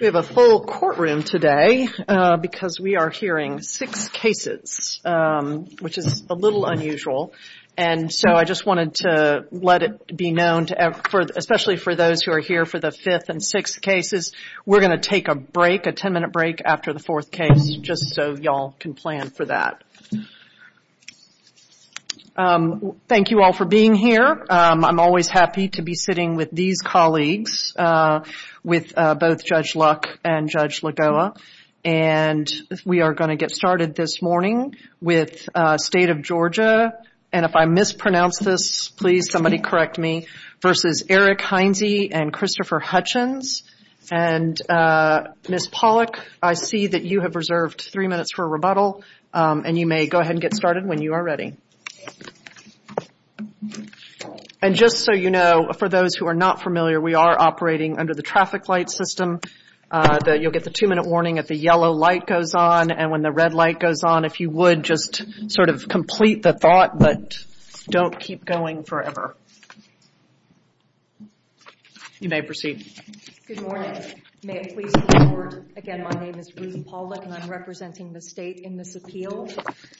We have a full courtroom today because we are hearing six cases, which is a little unusual, and so I just wanted to let it be known, especially for those who are here for the fifth and sixth cases, we're going to take a break, a ten-minute break after the fourth case, just so y'all can plan for that. Thank you all for being here. I'm always happy to be sitting with these colleagues, with both Judge Luck and Judge Lagoa, and we are going to get started this morning with State of Georgia, and if I mispronounce this, please, somebody correct me, versus Eric Heinze and Christopher Hutchins, and Ms. Pollack, I see that you have reserved three minutes for a break, so please go ahead and get started when you are ready. And just so you know, for those who are not familiar, we are operating under the traffic light system. You'll get the two-minute warning if the yellow light goes on, and when the red light goes on, if you would, just sort of complete the thought, but don't keep going forever. You may proceed. Good morning. May it please the Court, again, my name is Ruth Pollack, and I'm representing the State in this appeal.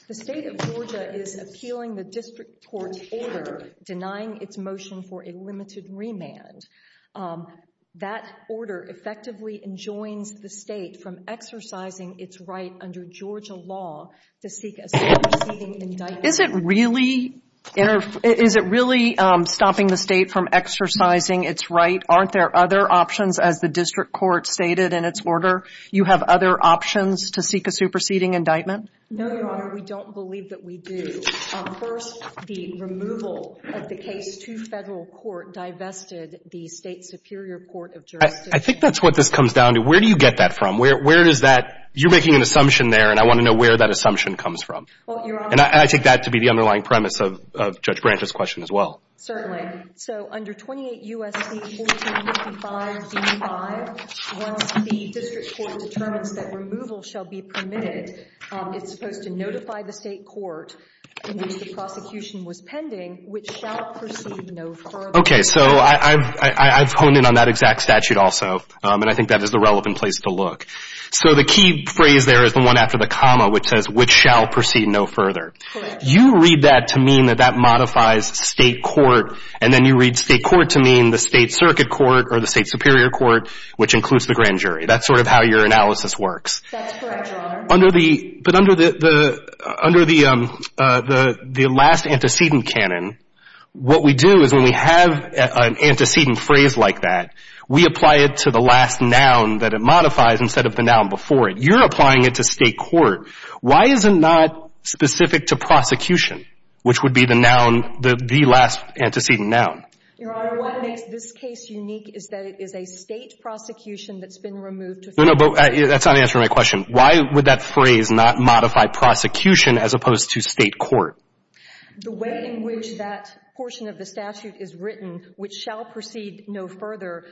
The State of Georgia is appealing the district court's order denying its motion for a limited remand. That order effectively enjoins the State from exercising its right under Georgia law to seek a superseding indictment. Is it really stopping the State from exercising its right? Aren't there other options, as the district court stated in its order? You have other options to seek a superseding indictment? No, Your Honor, we don't believe that we do. First, the removal of the case to federal court divested the State Superior Court of Georgia. I think that's what this comes down to. Where do you get that from? Where does that – you're making an assumption there, and I want to know where that assumption comes from. Well, Your Honor – And I take that to be the underlying premise of Judge Branch's question as well. Certainly. So under 28 U.S.C. 1455 D.V. 5, once the district court determines that removal shall be permitted, it's supposed to notify the State court in which the prosecution was pending, which shall proceed no further. Okay, so I've honed in on that exact statute also, and I think that is the relevant place to look. So the key phrase there is the one after the comma, which says, which shall proceed no further. Correct. You read that to mean that that modifies State court, and then you read State court to mean the State Circuit Court or the State Superior Court, which includes the grand jury. That's sort of how your analysis works. That's correct, Your Honor. But under the last antecedent canon, what we do is when we have an antecedent phrase like that, we apply it to the last noun that it modifies instead of the noun before it. But you're applying it to State court. Why is it not specific to prosecution, which would be the noun, the last antecedent noun? Your Honor, what makes this case unique is that it is a State prosecution that's been removed to... No, no, but that's not answering my question. Why would that phrase not modify prosecution as opposed to State court? The way in which that portion of the statute is written, which shall proceed no further,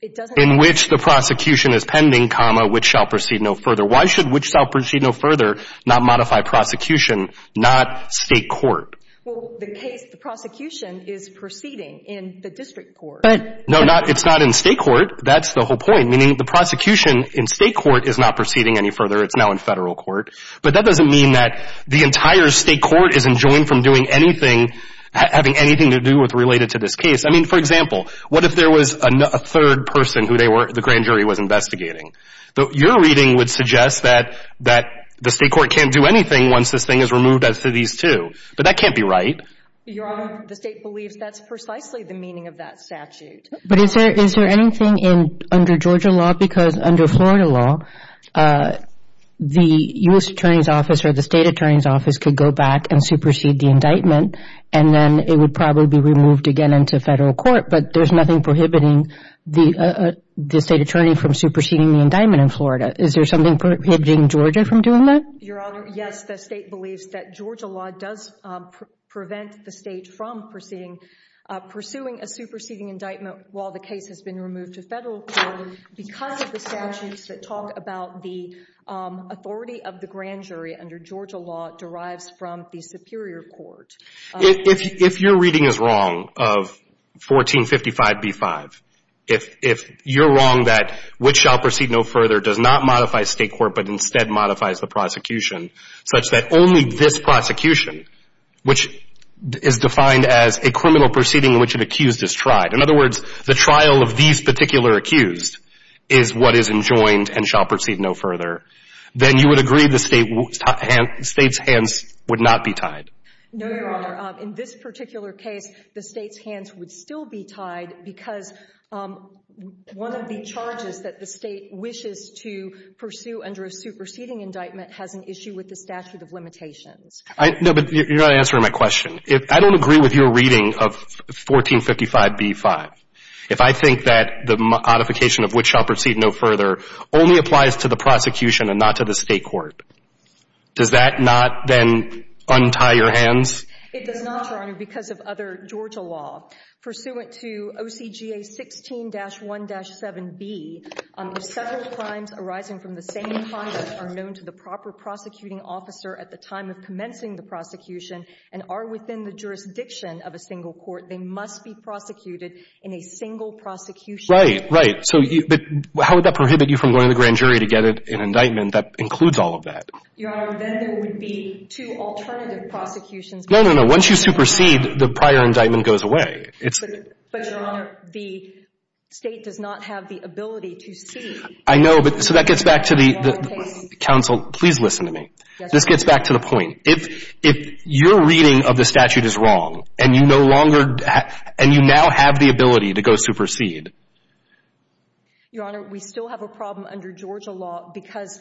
it doesn't... In which the prosecution is pending, comma, which shall proceed no further. Why should which shall proceed no further not modify prosecution, not State court? Well, the case, the prosecution is proceeding in the district court. No, it's not in State court. That's the whole point, meaning the prosecution in State court is not proceeding any further. It's now in Federal court. But that doesn't mean that the entire State court isn't joined from doing anything, having anything to do with related to this case. I mean, for example, what if there was a third person who the grand jury was investigating? Your reading would suggest that the State court can't do anything once this thing is removed as to these two. But that can't be right. Your Honor, the State believes that's precisely the meaning of that statute. But is there anything under Georgia law? Because under Florida law, the U.S. Attorney's Office or the State Attorney's Office could go back and supersede the indictment, and then it would probably be removed again into Federal court. But there's nothing prohibiting the State Attorney from superseding the indictment in Florida. Is there something prohibiting Georgia from doing that? Your Honor, yes. The State believes that Georgia law does prevent the State from pursuing a superseding indictment while the case has been removed to Federal court because of the statutes that talk about the authority of the grand jury under Georgia law derives from the superior court. If your reading is wrong of 1455b-5, if you're wrong that which shall proceed no further does not modify State court but instead modifies the prosecution such that only this prosecution, which is defined as a criminal proceeding in which an accused is tried, in other words, the trial of these particular accused is what is enjoined and shall proceed no further, then you would agree the State's hands would not be tied. No, Your Honor. In this particular case, the State's hands would still be tied because one of the charges that the State wishes to pursue under a superseding indictment has an issue with the statute of limitations. No, but you're not answering my question. I don't agree with your reading of 1455b-5. If I think that the modification of which shall proceed no further only applies to the prosecution and not to the State court, does that not then untie your hands? It does not, Your Honor, because of other Georgia law. Pursuant to OCGA 16-1-7b, if several crimes arising from the same crime are known to the proper prosecuting officer at the time of commencing the prosecution and are within the jurisdiction of a single court, they must be prosecuted in a single prosecution. Right, right. But how would that prohibit you from going to the grand jury to get an indictment that includes all of that? Your Honor, then there would be two alternative prosecutions. No, no, no. Once you supersede, the prior indictment goes away. But, Your Honor, the State does not have the ability to see. I know, but so that gets back to the — counsel, please listen to me. This gets back to the point. If your reading of the statute is wrong and you no longer — and you now have the ability to go supersede. Your Honor, we still have a problem under Georgia law because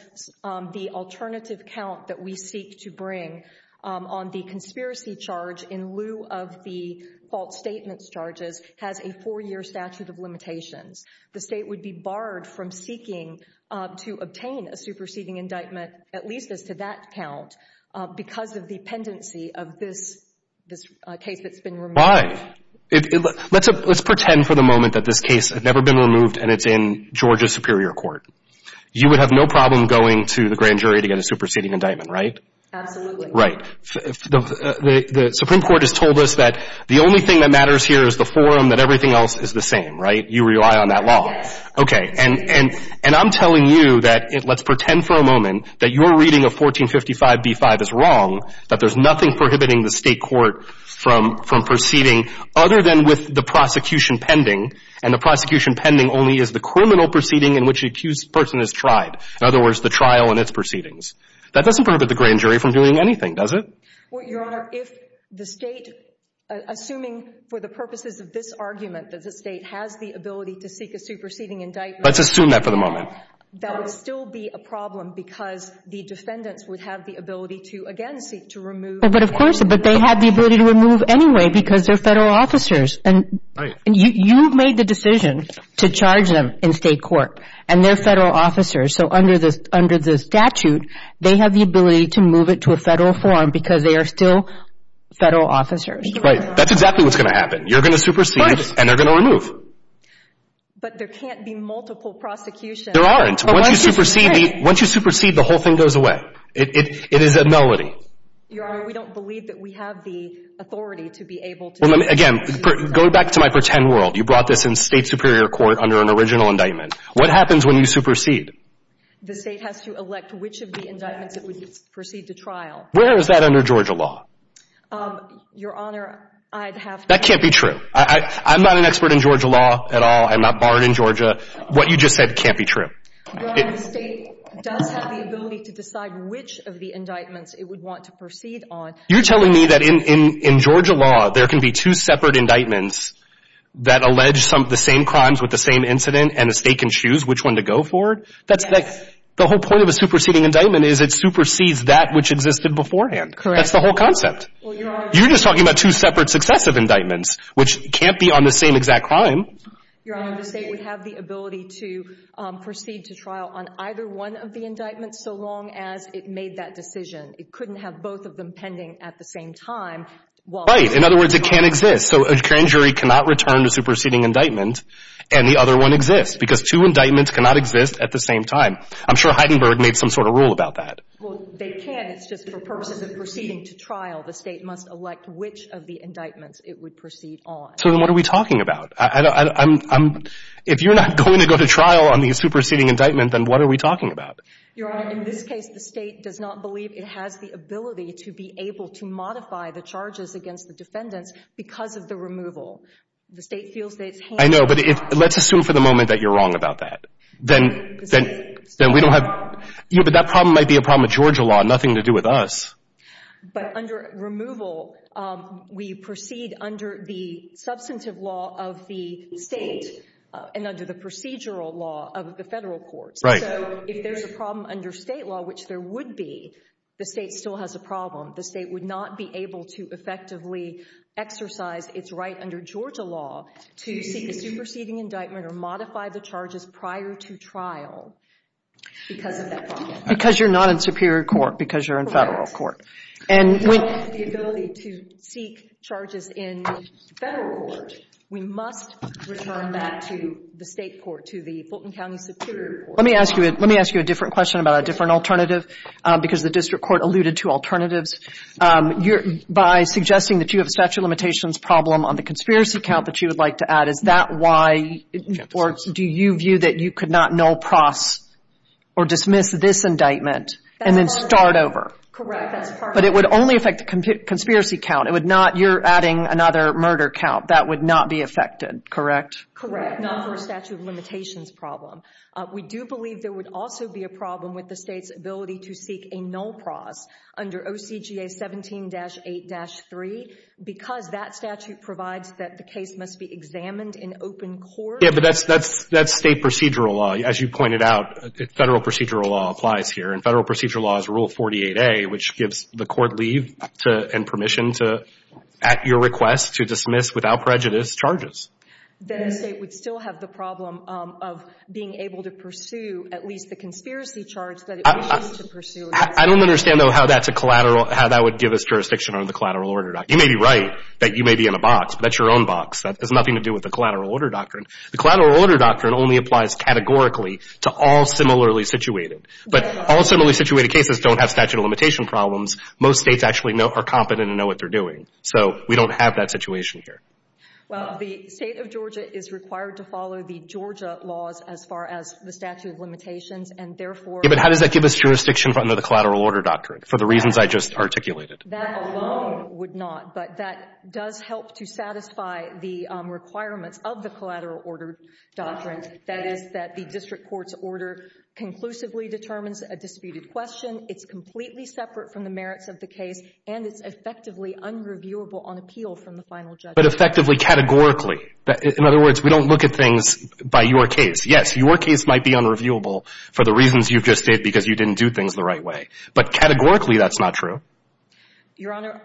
the alternative count that we seek to bring on the conspiracy charge in lieu of the false statement charges has a four-year statute of limitations. The State would be barred from seeking to obtain a superseding indictment, at least as to that count, because of the pendency of this case that's been removed. Why? Let's pretend for the moment that this case had never been removed and it's in Georgia Superior Court. You would have no problem going to the grand jury to get a superseding indictment, right? Absolutely. Right. The Supreme Court has told us that the only thing that matters here is the forum, that everything else is the same, right? You rely on that law. Yes. Okay. And I'm telling you that — let's pretend for a moment that your reading of 1455b-5 is wrong, that there's nothing prohibiting the State court from proceeding other than with the prosecution pending, and the prosecution pending only is the criminal proceeding in which the accused person has tried, in other words, the trial and its proceedings. That doesn't prohibit the grand jury from doing anything, does it? Well, Your Honor, if the State, assuming for the purposes of this argument that the State has the ability to seek a superseding indictment — Let's assume that for the moment. — that would still be a problem because the defendants would have the ability to, again, seek to remove — But of course, but they have the ability to remove anyway because they're federal officers. Right. And you've made the decision to charge them in State court, and they're federal officers. So under the statute, they have the ability to move it to a federal forum because they are still federal officers. Right. That's exactly what's going to happen. You're going to supersede — But —— and they're going to remove. But there can't be multiple prosecutions — There aren't. Once you supersede, the whole thing goes away. It is a melody. Your Honor, we don't believe that we have the authority to be able to — Well, again, going back to my pretend world, you brought this in State superior court under an original indictment. What happens when you supersede? The State has to elect which of the indictments it would proceed to trial. Where is that under Georgia law? Your Honor, I'd have to — That can't be true. I'm not an expert in Georgia law at all. I'm not barred in Georgia. What you just said can't be true. Your Honor, the State does have the ability to decide which of the indictments it would want to proceed on. You're telling me that in Georgia law, there can be two separate indictments that allege some of the same crimes with the same incident, and the State can choose which one to go for? That's — The whole point of a superseding indictment is it supersedes that which existed beforehand. Correct. That's the whole concept. Well, Your Honor — You're just talking about two separate successive indictments, which can't be on the same exact crime. Your Honor, the State would have the ability to proceed to trial on either one of the indictments so long as it made that decision. It couldn't have both of them pending at the same time while — Right. In other words, it can't exist. So a grand jury cannot return to superseding indictment, and the other one exists because two indictments cannot exist at the same time. I'm sure Heidenberg made some sort of rule about that. Well, they can. It's just for purposes of proceeding to trial, the State must elect which of the indictments it would proceed on. What are we talking about? If you're not going to go to trial on the superseding indictment, then what are we talking about? Your Honor, in this case, the State does not believe it has the ability to be able to modify the charges against the defendants because of the removal. The State feels that it's — I know. But let's assume for the moment that you're wrong about that. Then we don't have — but that problem might be a problem with Georgia law, nothing to do with us. But under removal, we proceed under the substantive law of the State and under the procedural law of the Federal courts. Right. So if there's a problem under State law, which there would be, the State still has a problem. The State would not be able to effectively exercise its right under Georgia law to superseding indictment or modify the charges prior to trial because of that problem. Because you're not in superior court, because you're in Federal court. And we — You don't have the ability to seek charges in Federal court. We must return that to the State court, to the Fulton County Superior Court. Let me ask you — let me ask you a different question about a different alternative, because the District Court alluded to alternatives. You're — by suggesting that you have a statute of limitations problem on the conspiracy count that you would like to add, is that why — or do you view that you could not null pros or dismiss this indictment and then start over? Correct. That's part of it. But it would only affect the conspiracy count. It would not — you're adding another murder count. That would not be affected, correct? Correct. Not for a statute of limitations problem. We do believe there would also be a problem with the State's ability to seek a null pros under OCGA 17-8-3 because that statute provides that the case must be examined in open court. Yeah, but that's — that's State procedural law. As you pointed out, Federal procedural law applies here, and Federal procedural law is Rule 48A, which gives the court leave to — and permission to, at your request, to dismiss, without prejudice, Then the State would still have the problem of being able to pursue at least the conspiracy charge that it wishes to pursue. I don't understand, though, how that's a collateral — how that would give us jurisdiction under the collateral order doctrine. You may be right that you may be in a box, but that's your own box. That has nothing to do with the collateral order doctrine. The collateral order doctrine only applies categorically to all similarly situated. But all similarly situated cases don't have statute of limitation problems. Most States actually know — are competent and know what they're doing. So we don't have that situation here. Well, the State of Georgia is required to follow the Georgia laws as far as the statute of limitations, and therefore — Yeah, but how does that give us jurisdiction under the collateral order doctrine for the reasons I just articulated? That alone would not. But that does help to satisfy the requirements of the collateral order doctrine, that is, that the district court's order conclusively determines a disputed question, it's completely separate from the merits of the case, and it's effectively unreviewable on appeal from the final judge. But effectively categorically. In other words, we don't look at things by your case. Yes, your case might be unreviewable for the reasons you've just stated because you didn't do things the right way. But categorically, that's not true. Your Honor,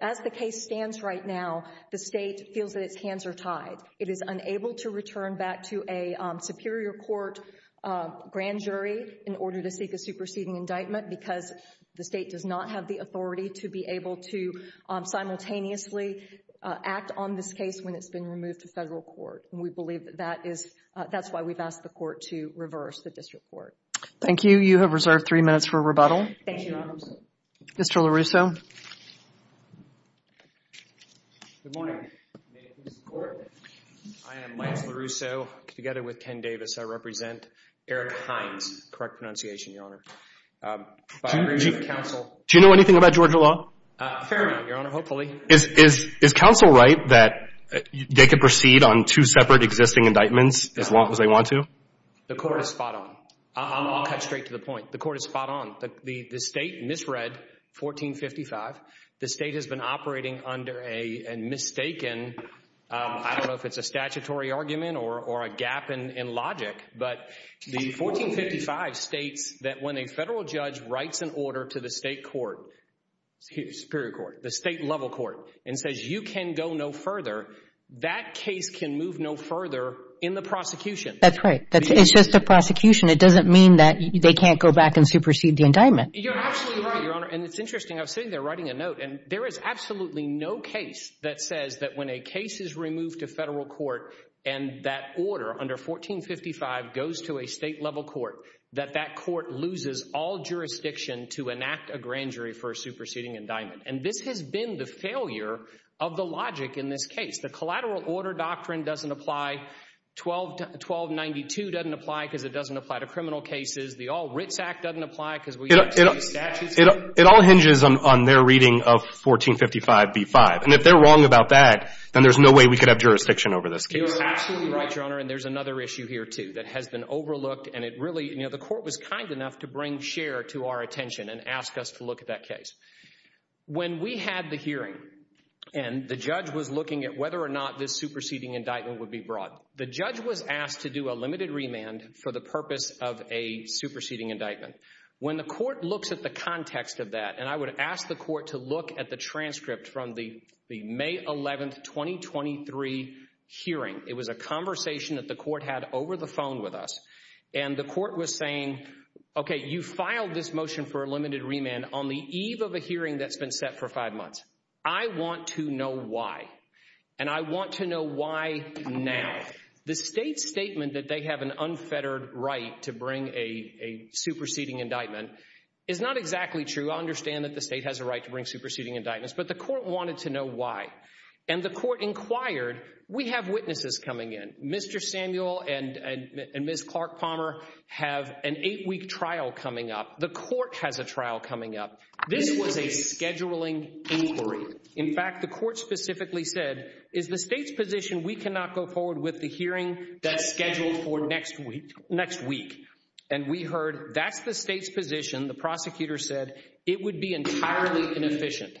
as the case stands right now, the State feels that its hands are tied. It is unable to return back to a superior court grand jury in order to seek a superseding indictment because the State does not have the authority to be able to simultaneously act on this case when it's been removed to federal court. And we believe that that is — that's why we've asked the court to reverse the district court. Thank you. You have reserved three minutes for rebuttal. Thank you, Your Honors. Mr. LaRusso. Good morning. I am Lance LaRusso, together with Ken Davis. I represent Eric Hines, correct pronunciation, Your Honor. Do you know anything about Georgia law? Fair enough, Your Honor, hopefully. Is — is — is counsel right that they could proceed on two separate existing indictments as long as they want to? The court is spot on. I'll cut straight to the point. The court is spot on. The State misread 1455. The State has been operating under a mistaken — I don't know if it's a statutory argument or a gap in logic, but the 1455 states that when a federal judge writes an order to the State court, superior court, the State-level court, and says you can go no further, that case can move no further in the prosecution. That's right. It's just a prosecution. It doesn't mean that they can't go back and supersede the indictment. You're absolutely right, Your Honor. And it's interesting. I was sitting there writing a note, and there is absolutely no case that says that when a case is removed to federal court and that order under 1455 goes to a State-level court, that that court loses all jurisdiction to enact a grand jury for superseding indictment. And this has been the failure of the logic in this case. The collateral order doctrine doesn't apply. 1292 doesn't apply because it doesn't apply to criminal cases. The Ritz Act doesn't apply because we can't change statutes here. It all hinges on their reading of 1455b-5. And if they're wrong about that, then there's no way we could have jurisdiction over this case. You're absolutely right, Your Honor. And there's another issue here, too, that has been overlooked. And it really — you know, the Court was kind enough to bring Scheer to our attention and ask us to look at that case. When we had the hearing and the judge was looking at whether or not this superseding indictment would be brought, the judge was asked to do a limited remand for the purpose of a superseding indictment. When the Court looks at the context of that — and I would ask the Court to look at the transcript from the May 11, 2023 hearing. It was a conversation that the Court had over the phone with us. And the Court was saying, OK, you filed this motion for a limited remand on the eve of a hearing that's been set for five months. I want to know why. And I want to know why now. The state's statement that they have an unfettered right to bring a superseding indictment is not exactly true. I understand that the state has a right to bring superseding indictments. But the Court wanted to know why. And the Court inquired. We have witnesses coming in. Mr. Samuel and Ms. Clark Palmer have an eight-week trial coming up. The Court has a trial coming up. This was a scheduling inquiry. In fact, the Court specifically said, is the state's position we cannot go forward with the hearing that's scheduled for next week? And we heard, that's the state's position. The prosecutor said, it would be entirely inefficient.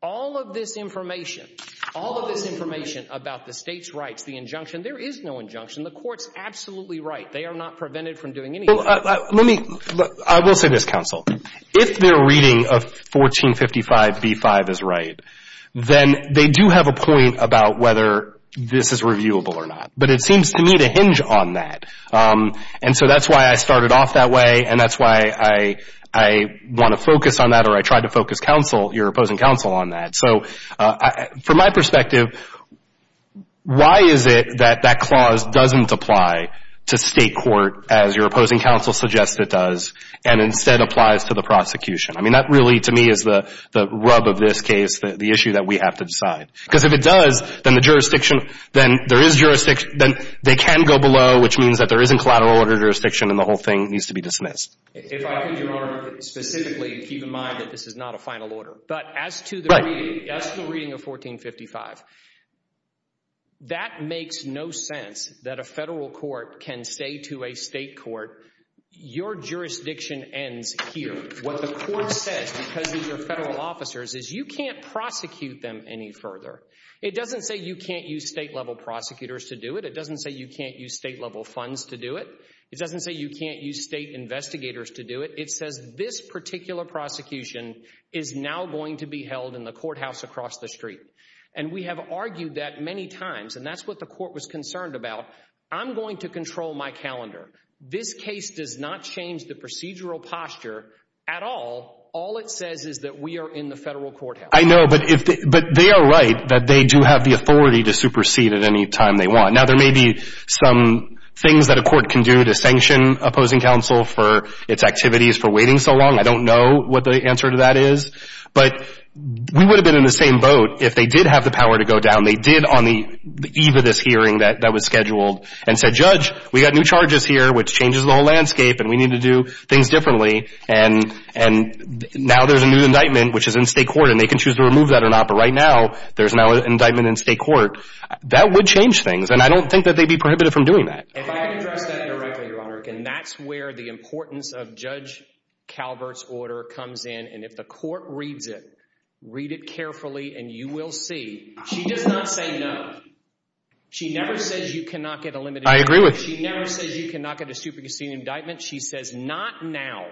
All of this information, all of this information about the state's rights, the injunction, there is no injunction. The Court's absolutely right. They are not prevented from doing anything. Let me, I will say this, counsel. If their reading of 1455B5 is right, then they do have a point about whether this is reviewable or not. But it seems to me to hinge on that. And so that's why I started off that way. And that's why I want to focus on that, or I tried to focus counsel, your opposing counsel, on that. So from my perspective, why is it that that clause doesn't apply to state court as your opposing counsel suggests it does, and instead applies to the prosecution? I mean, that really, to me, is the rub of this case, the issue that we have to decide. Because if it does, then the jurisdiction, then there is jurisdiction, then they can go below, which means that there isn't collateral order jurisdiction, and the whole thing needs to be dismissed. If I could, Your Honor, specifically keep in mind that this is not a final order. But as to the reading of 1455, that makes no sense that a federal court can say to a state court, your jurisdiction ends here. What the court says, because of your federal officers, is you can't prosecute them any further. It doesn't say you can't use state-level prosecutors to do it. It doesn't say you can't use state-level funds to do is now going to be held in the courthouse across the street. And we have argued that many times, and that's what the court was concerned about. I'm going to control my calendar. This case does not change the procedural posture at all. All it says is that we are in the federal courthouse. I know, but they are right that they do have the authority to supersede at any time they want. Now, there may be some things that a court can do to sanction opposing counsel for its activities for waiting so long. I don't know what the answer to that is. But we would have been in the same boat if they did have the power to go down. They did on the eve of this hearing that was scheduled and said, Judge, we got new charges here, which changes the whole landscape, and we need to do things differently. And now there's a new indictment, which is in state court, and they can choose to remove that or not. But right now, there's now an indictment in state court. That would change things. And I don't think that they'd be prohibited from doing that. If I could address that directly, Your Honor, and that's where the importance of Judge Calvert's order comes in. And if the court reads it, read it carefully, and you will see. She does not say no. She never says you cannot get a limited time. I agree with you. She never says you cannot get a superseding indictment. She says, not now.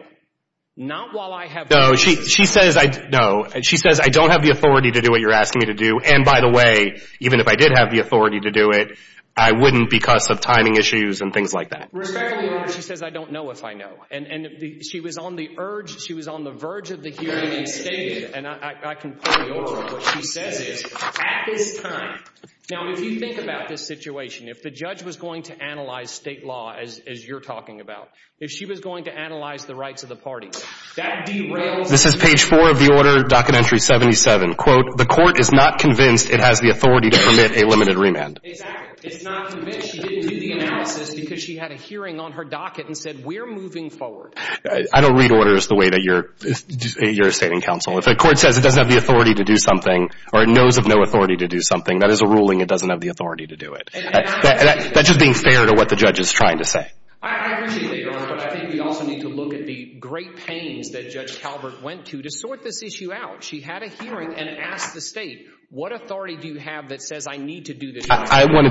Not while I have No, she says, I don't have the authority to do what you're asking me to do. And by the way, even if I did have the authority to do it, I wouldn't because of timing issues and things like that. Regarding the order, she says, I don't know if I know. And she was on the urge, she was on the verge of the hearing and stated, and I can quote the order, what she says is, at this time, now, if you think about this situation, if the judge was going to analyze state law, as you're talking about, if she was going to analyze the rights of the party, that derails This is page four of the order, docket entry 77. Quote, The court is not convinced it has the authority to permit a limited remand. Exactly. It's not convinced. She didn't do the analysis because she had a hearing on her docket and said, we're moving forward. I don't read orders the way that you're stating counsel. If the court says it doesn't have the authority to do something, or it knows of no authority to do something, that is a ruling, it doesn't have the authority to do it. That's just being fair to what the judge is trying to say. I agree with you, Your Honor, but I think we also need to look at the great pains that Judge Talbert went to to sort this issue out. She had a hearing and asked the state, what authority do you have that says I need to do this? I want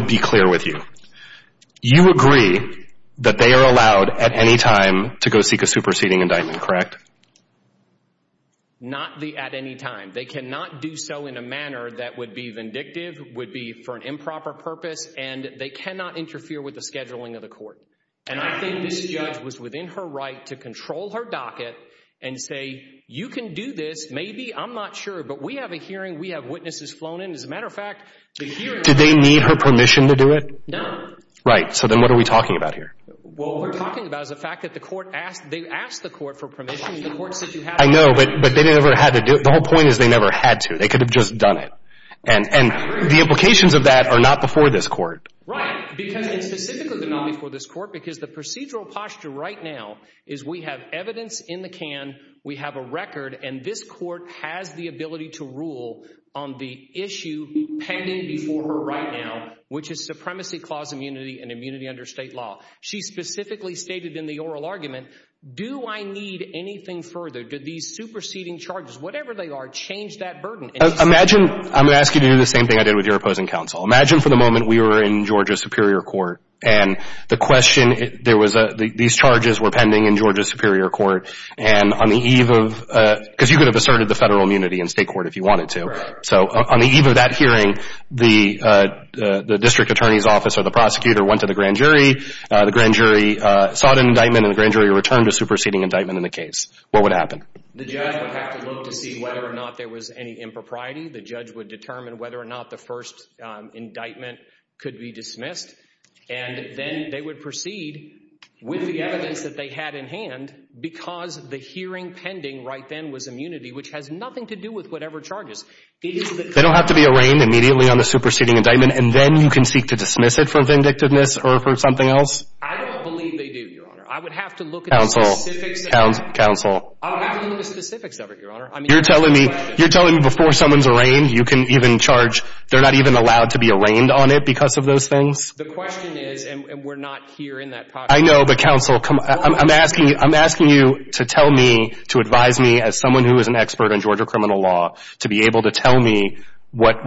to be clear with you. You agree that they are allowed at any time to go seek a superseding indictment, correct? Not at any time. They cannot do so in a manner that would be vindictive, would be for an improper purpose, and they cannot interfere with the scheduling of the court. And I think this judge was within her right to control her docket and say, you can do this, maybe, I'm not sure, but we have a hearing, we have witnesses flown in. As a matter of fact, the hearing Did they need her permission to do it? No. Right. So then what are we talking about here? What we're talking about is the fact that the court asked, they asked the court for permission and the court said you have to do it. I know, but they never had to do it. The whole point is they never had to. They could have just done it. And the implications of that are not before this court. Right, because it's specifically not before this court, because the procedural posture right now is we have evidence in the can, we have a record, and this court has the ability to rule on the issue pending before her right now, which is supremacy clause immunity and immunity under state law. She specifically stated in the oral argument, do I need anything further? Do these superseding charges, whatever they are, change that burden? Imagine, I'm going to ask you to do the same thing I did with your opposing counsel. Imagine for the moment we were in Georgia Superior Court and the question, there was, these charges were pending in Georgia Superior Court and on the eve of, because you could have asserted the federal immunity in state court if you wanted to. So on the eve of that hearing, the district attorney's office or the prosecutor went to the grand jury, the grand jury sought an indictment, and the grand jury returned a superseding indictment in the case. What would happen? The judge would have to look to see whether or not there was any impropriety. The judge would determine whether or not the first indictment could be dismissed, and then they would proceed with the evidence that they had in hand because the hearing pending right then was immunity, which has nothing to do with whatever charges. They don't have to be arraigned immediately on the superseding indictment, and then you can seek to dismiss it for vindictiveness or for something else? I don't believe they do, Your Honor. I would have to look at the specifics of it. Counsel, counsel. I would have to look at the specifics of it, Your Honor. You're telling me before someone's arraigned, you can even charge, they're not even allowed to be arraigned on it because of those things? The question is, and we're not here in that pocket. I know, but counsel, I'm asking you to tell me, to advise me as someone who is an expert on Georgia criminal law, to be able to tell me what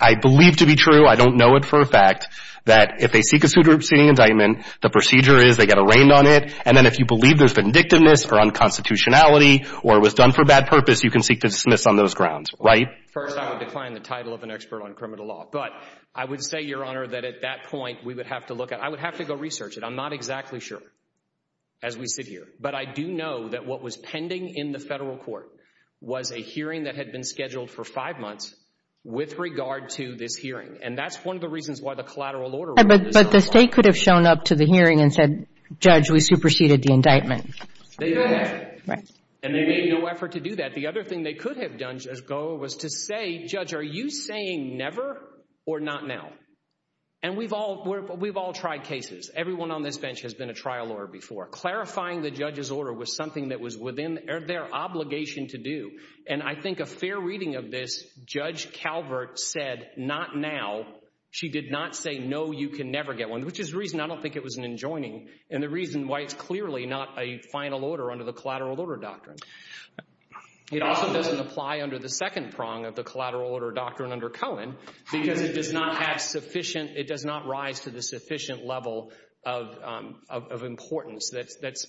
I believe to be true, I don't know it for a fact, that if they seek a superseding indictment, the procedure is they get arraigned on it, and then if you believe there's vindictiveness or unconstitutionality or it was done for bad purpose, you can seek to dismiss on those grounds, right? First, I would decline the title of an expert on criminal law, but I would say, Your Honor, that at that point, we would have to look at, I would have to go research it. I'm not exactly sure as we sit here, but I do know that what was pending in the federal court was a hearing that had been scheduled for five months with regard to this hearing, and that's one of the reasons why the collateral order was so hard. But the state could have shown up to the hearing and said, Judge, we superseded the indictment. They've been there, and they made no effort to do that. The other thing they could have done as goal was to say, Judge, are you saying never or not now? And we've all tried cases. Everyone on this bench has been a trial lawyer before. Clarifying the judge's order was something that was within their obligation to do, and I think a fair reading of this, Judge Calvert said, not now. She did not say, no, you can never get one, which is the reason I don't think it was an enjoining and the reason why it's clearly not a final order under the collateral order doctrine. It also doesn't apply under the second prong of the collateral order doctrine under Cohen because it does not have sufficient, it does not rise to the sufficient level of importance that's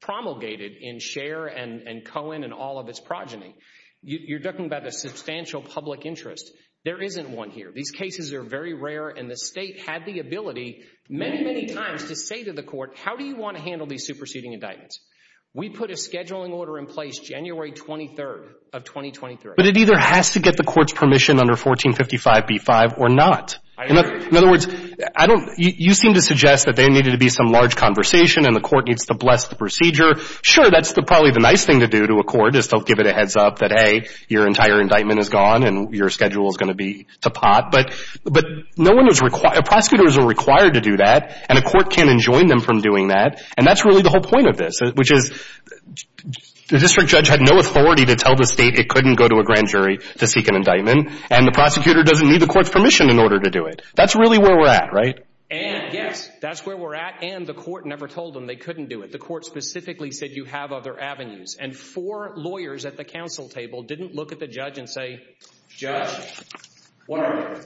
promulgated in Scher and Cohen and all of its progeny. You're talking about the substantial public interest. There isn't one here. These cases are very rare, and the state had the ability many, many times to say to the court, how do you want to handle these superseding indictments? We put a scheduling order in place January 23rd of 2023. But it either has to get the court's permission under 1455B5 or not. In other words, you seem to suggest that there needed to be some large conversation and the court needs to bless the procedure. Sure, that's probably the nice thing to do to a court is to give it a heads up that, hey, your entire indictment is gone and your schedule is going to be to pot, but prosecutors are required to do that, and a court can't enjoin them from doing that. And that's really the whole point of this, which is the district judge had no authority to tell the state it couldn't go to a grand jury to seek an indictment, and the prosecutor doesn't need the court's permission in order to do it. That's really where we're at, right? And, yes, that's where we're at, and the court never told them they couldn't do it. The court specifically said you have other avenues. And four lawyers at the counsel table didn't look at the judge and say, Judge, whatever,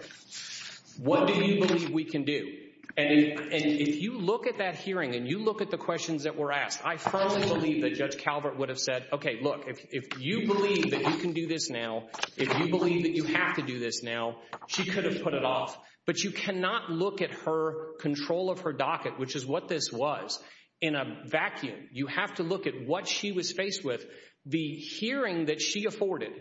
what do you believe we can do? And if you look at that hearing and you look at the questions that were asked, I firmly believe that Judge Calvert would have said, okay, look, if you believe that you can do this now, if you believe that you have to do this now, she could have put it off. But you cannot look at her control of her docket, which is what this was, in a vacuum. You have to look at what she was faced with. The hearing that she afforded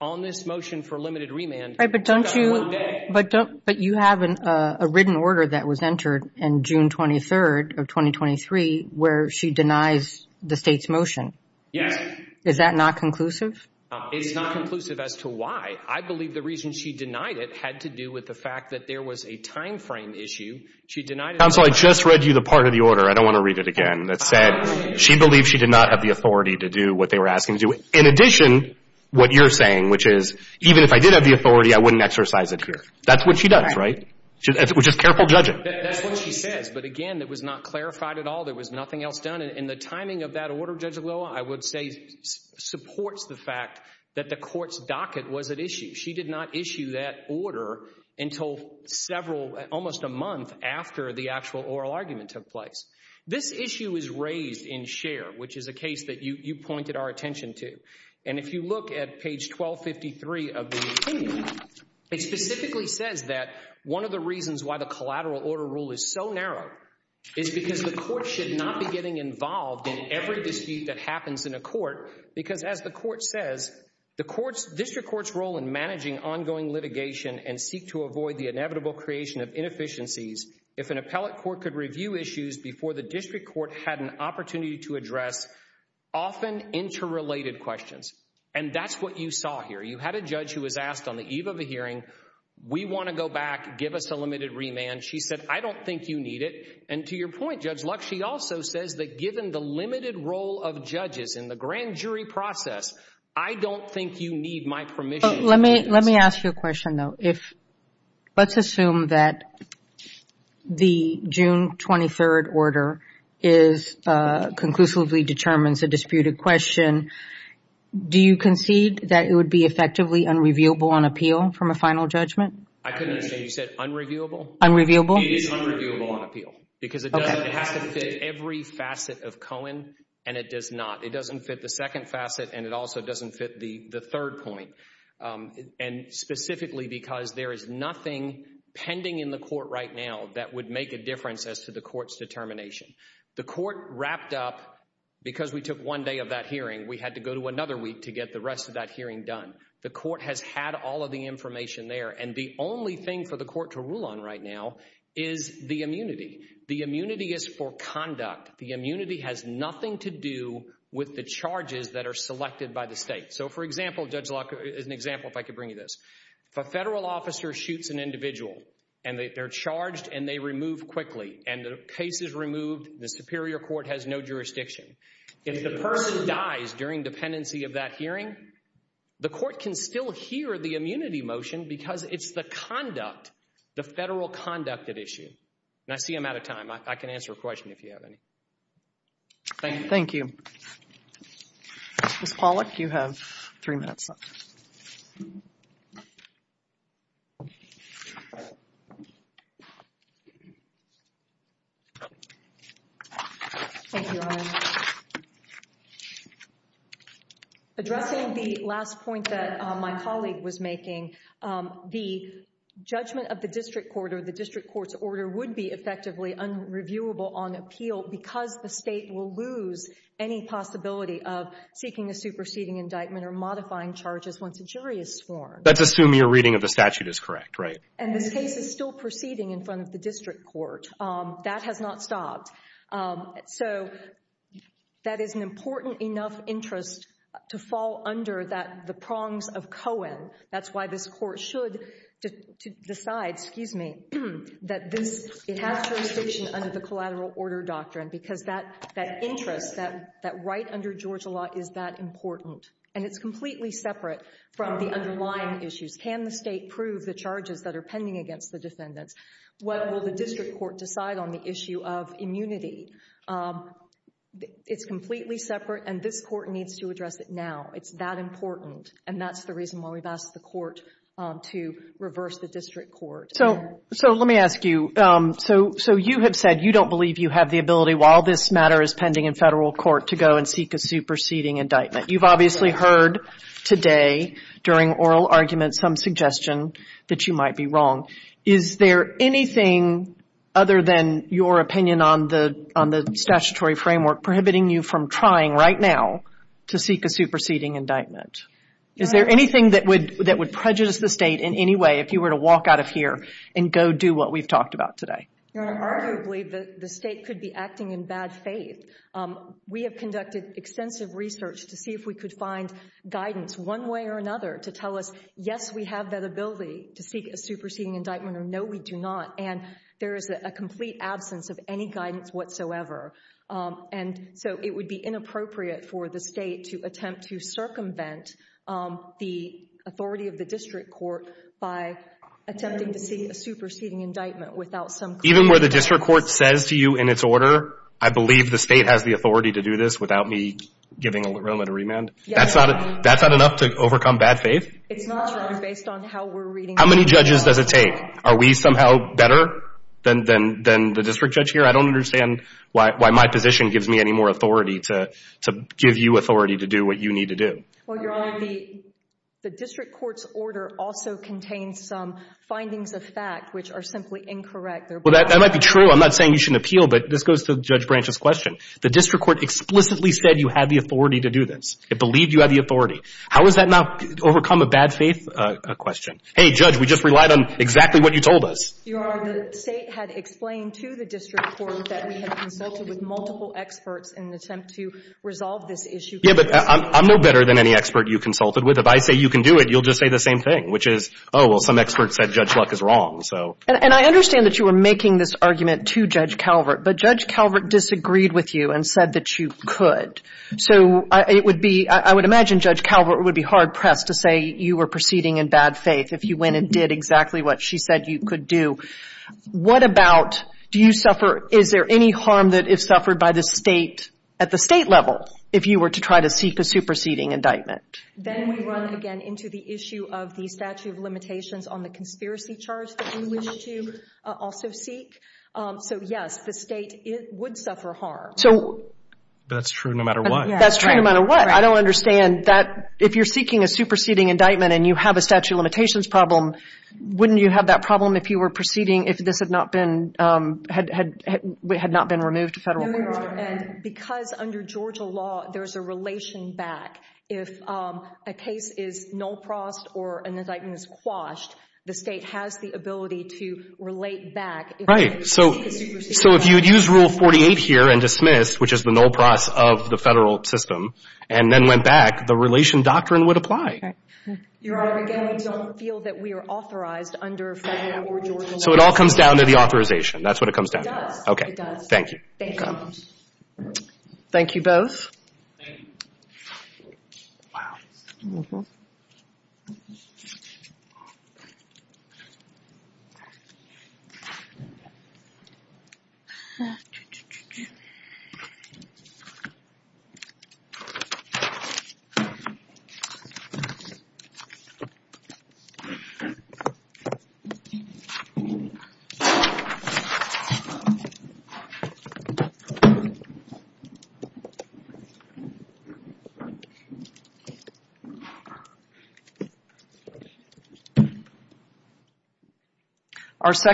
on this motion for limited remand, she got one day. But you have a written order that was entered in June 23rd of 2023 where she denies the state's motion. Yes. Is that not conclusive? It's not conclusive as to why. I believe the reason she denied it had to do with the fact that there was a time frame issue. She denied it. Counsel, I just read you the part of the order. I don't want to read it again. She believed she did not have the authority to do what they were asking to do. In addition, what you're saying, which is, even if I did have the authority, I wouldn't exercise it here. That's what she does, right? Just careful judging. That's what she says. But again, it was not clarified at all. There was nothing else done. And the timing of that order, Judge Agloa, I would say, supports the fact that the court's docket was at issue. She did not issue that order until several, almost a month after the actual oral argument took place. This issue is raised in Scheer, which is a case that you pointed our attention to. And if you look at page 1253 of the opinion, it specifically says that one of the reasons why the collateral order rule is so narrow is because the court should not be getting involved in every dispute that happens in a court. Because as the court says, the court's, district court's role in managing ongoing litigation and seek to avoid the inevitable creation of inefficiencies if an appellate court could review issues before the district court had an opportunity to address often interrelated questions. And that's what you saw here. You had a judge who was asked on the eve of a hearing, we want to go back, give us a limited remand. She said, I don't think you need it. And to your point, Judge Luck, she also says that given the limited role of judges in the grand jury process, I don't think you need my permission. Let me ask you a question though. Let's assume that the June 23rd order conclusively determines a disputed question. Do you concede that it would be effectively unreviewable on appeal from a final judgment? I couldn't understand, you said unreviewable? Unreviewable. It is unreviewable on appeal. Because it has to fit every facet of Cohen and it does not. It doesn't fit the second facet and it also doesn't fit the third point. And specifically because there is nothing pending in the court right now that would make a difference as to the court's determination. The court wrapped up because we took one day of that hearing. We had to go to another week to get the rest of that hearing done. The court has had all of the information there. And the only thing for the court to rule on right now is the immunity. The immunity is for conduct. The immunity has nothing to do with the charges that are selected by the state. So for example, Judge Locke, as an example, if I could bring you this. If a federal officer shoots an individual and they're charged and they remove quickly and the case is removed, the superior court has no jurisdiction. If the person dies during dependency of that hearing, the court can still hear the immunity motion because it's the conduct, the federal conduct at issue. And I see I'm out of time. I can answer a question if you have any. Thank you. Ms. Pollack, you have three minutes left. Thank you, Iron. Addressing the last point that my colleague was making, the judgment of the district court or the district court's order would be effectively unreviewable on appeal because the state will lose any possibility of seeking a superseding indictment or modifying charges once a jury is sworn. Let's assume your reading of the statute is correct, right? And this case is still proceeding in front of the district court. That has not stopped. So that is an important enough interest to fall under the prongs of Cohen. That's why this court should decide, excuse me, that it has jurisdiction under the collateral order doctrine because that interest, that right under Georgia law is that important. And it's completely separate from the underlying issues. Can the state prove the charges that are pending against the defendants? What will the district court decide on the issue of immunity? It's completely separate. And this court needs to address it now. It's that important. And that's the reason why we've asked the court to reverse the district court. So let me ask you. So you have said you don't believe you have the ability while this matter is pending in federal court to go and seek a superseding indictment. You've obviously heard today during oral arguments some suggestion that you might be wrong. Is there anything other than your opinion on the statutory framework prohibiting you from trying right now to seek a superseding indictment? Is there anything that would prejudice the state in any way if you were to walk out of and go do what we've talked about today? Arguably, the state could be acting in bad faith. We have conducted extensive research to see if we could find guidance one way or another to tell us, yes, we have that ability to seek a superseding indictment or no, we do not. And there is a complete absence of any guidance whatsoever. And so it would be inappropriate for the state to attempt to circumvent the authority of the district court by attempting to seek a superseding indictment without some. Even where the district court says to you in its order, I believe the state has the authority to do this without me giving a moment of remand. That's not enough to overcome bad faith? It's not based on how we're reading. How many judges does it take? Are we somehow better than the district judge here? I don't understand why my position gives me any more authority to give you authority to do what you need to do. Well, Your Honor, the district court's order also contains some findings of fact, which are simply incorrect. Well, that might be true. I'm not saying you shouldn't appeal, but this goes to Judge Branch's question. The district court explicitly said you had the authority to do this. It believed you had the authority. How is that not overcome a bad faith question? Hey, Judge, we just relied on exactly what you told us. Your Honor, the state had explained to the district court that we had consulted with multiple experts in an attempt to resolve this issue. But I'm no better than any expert you consulted with. If I say you can do it, you'll just say the same thing, which is, oh, well, some expert said Judge Luck is wrong. And I understand that you were making this argument to Judge Calvert, but Judge Calvert disagreed with you and said that you could. So it would be, I would imagine Judge Calvert would be hard-pressed to say you were proceeding in bad faith if you went and did exactly what she said you could do. What about, do you suffer, is there any harm that is suffered by the state, at the state level, if you were to try to seek a superseding indictment? Then we run again into the issue of the statute of limitations on the conspiracy charge that you wish to also seek. So, yes, the state would suffer harm. So. That's true no matter what. That's true no matter what. I don't understand that if you're seeking a superseding indictment and you have a statute of limitations problem, wouldn't you have that problem if you were proceeding, if this had not been, had not been removed to federal court? And because under Georgia law, there's a relation back. If a case is null-prossed or an indictment is quashed, the state has the ability to relate back. Right. So if you'd use Rule 48 here and dismiss, which is the null-pross of the federal system, and then went back, the relation doctrine would apply. Your Honor, again, we don't feel that we are authorized under federal or Georgia law. So it all comes down to the authorization. That's what it comes down to. It does. Okay. Thank you. Thank you both. Thank you both. Wow. Thank you. Our second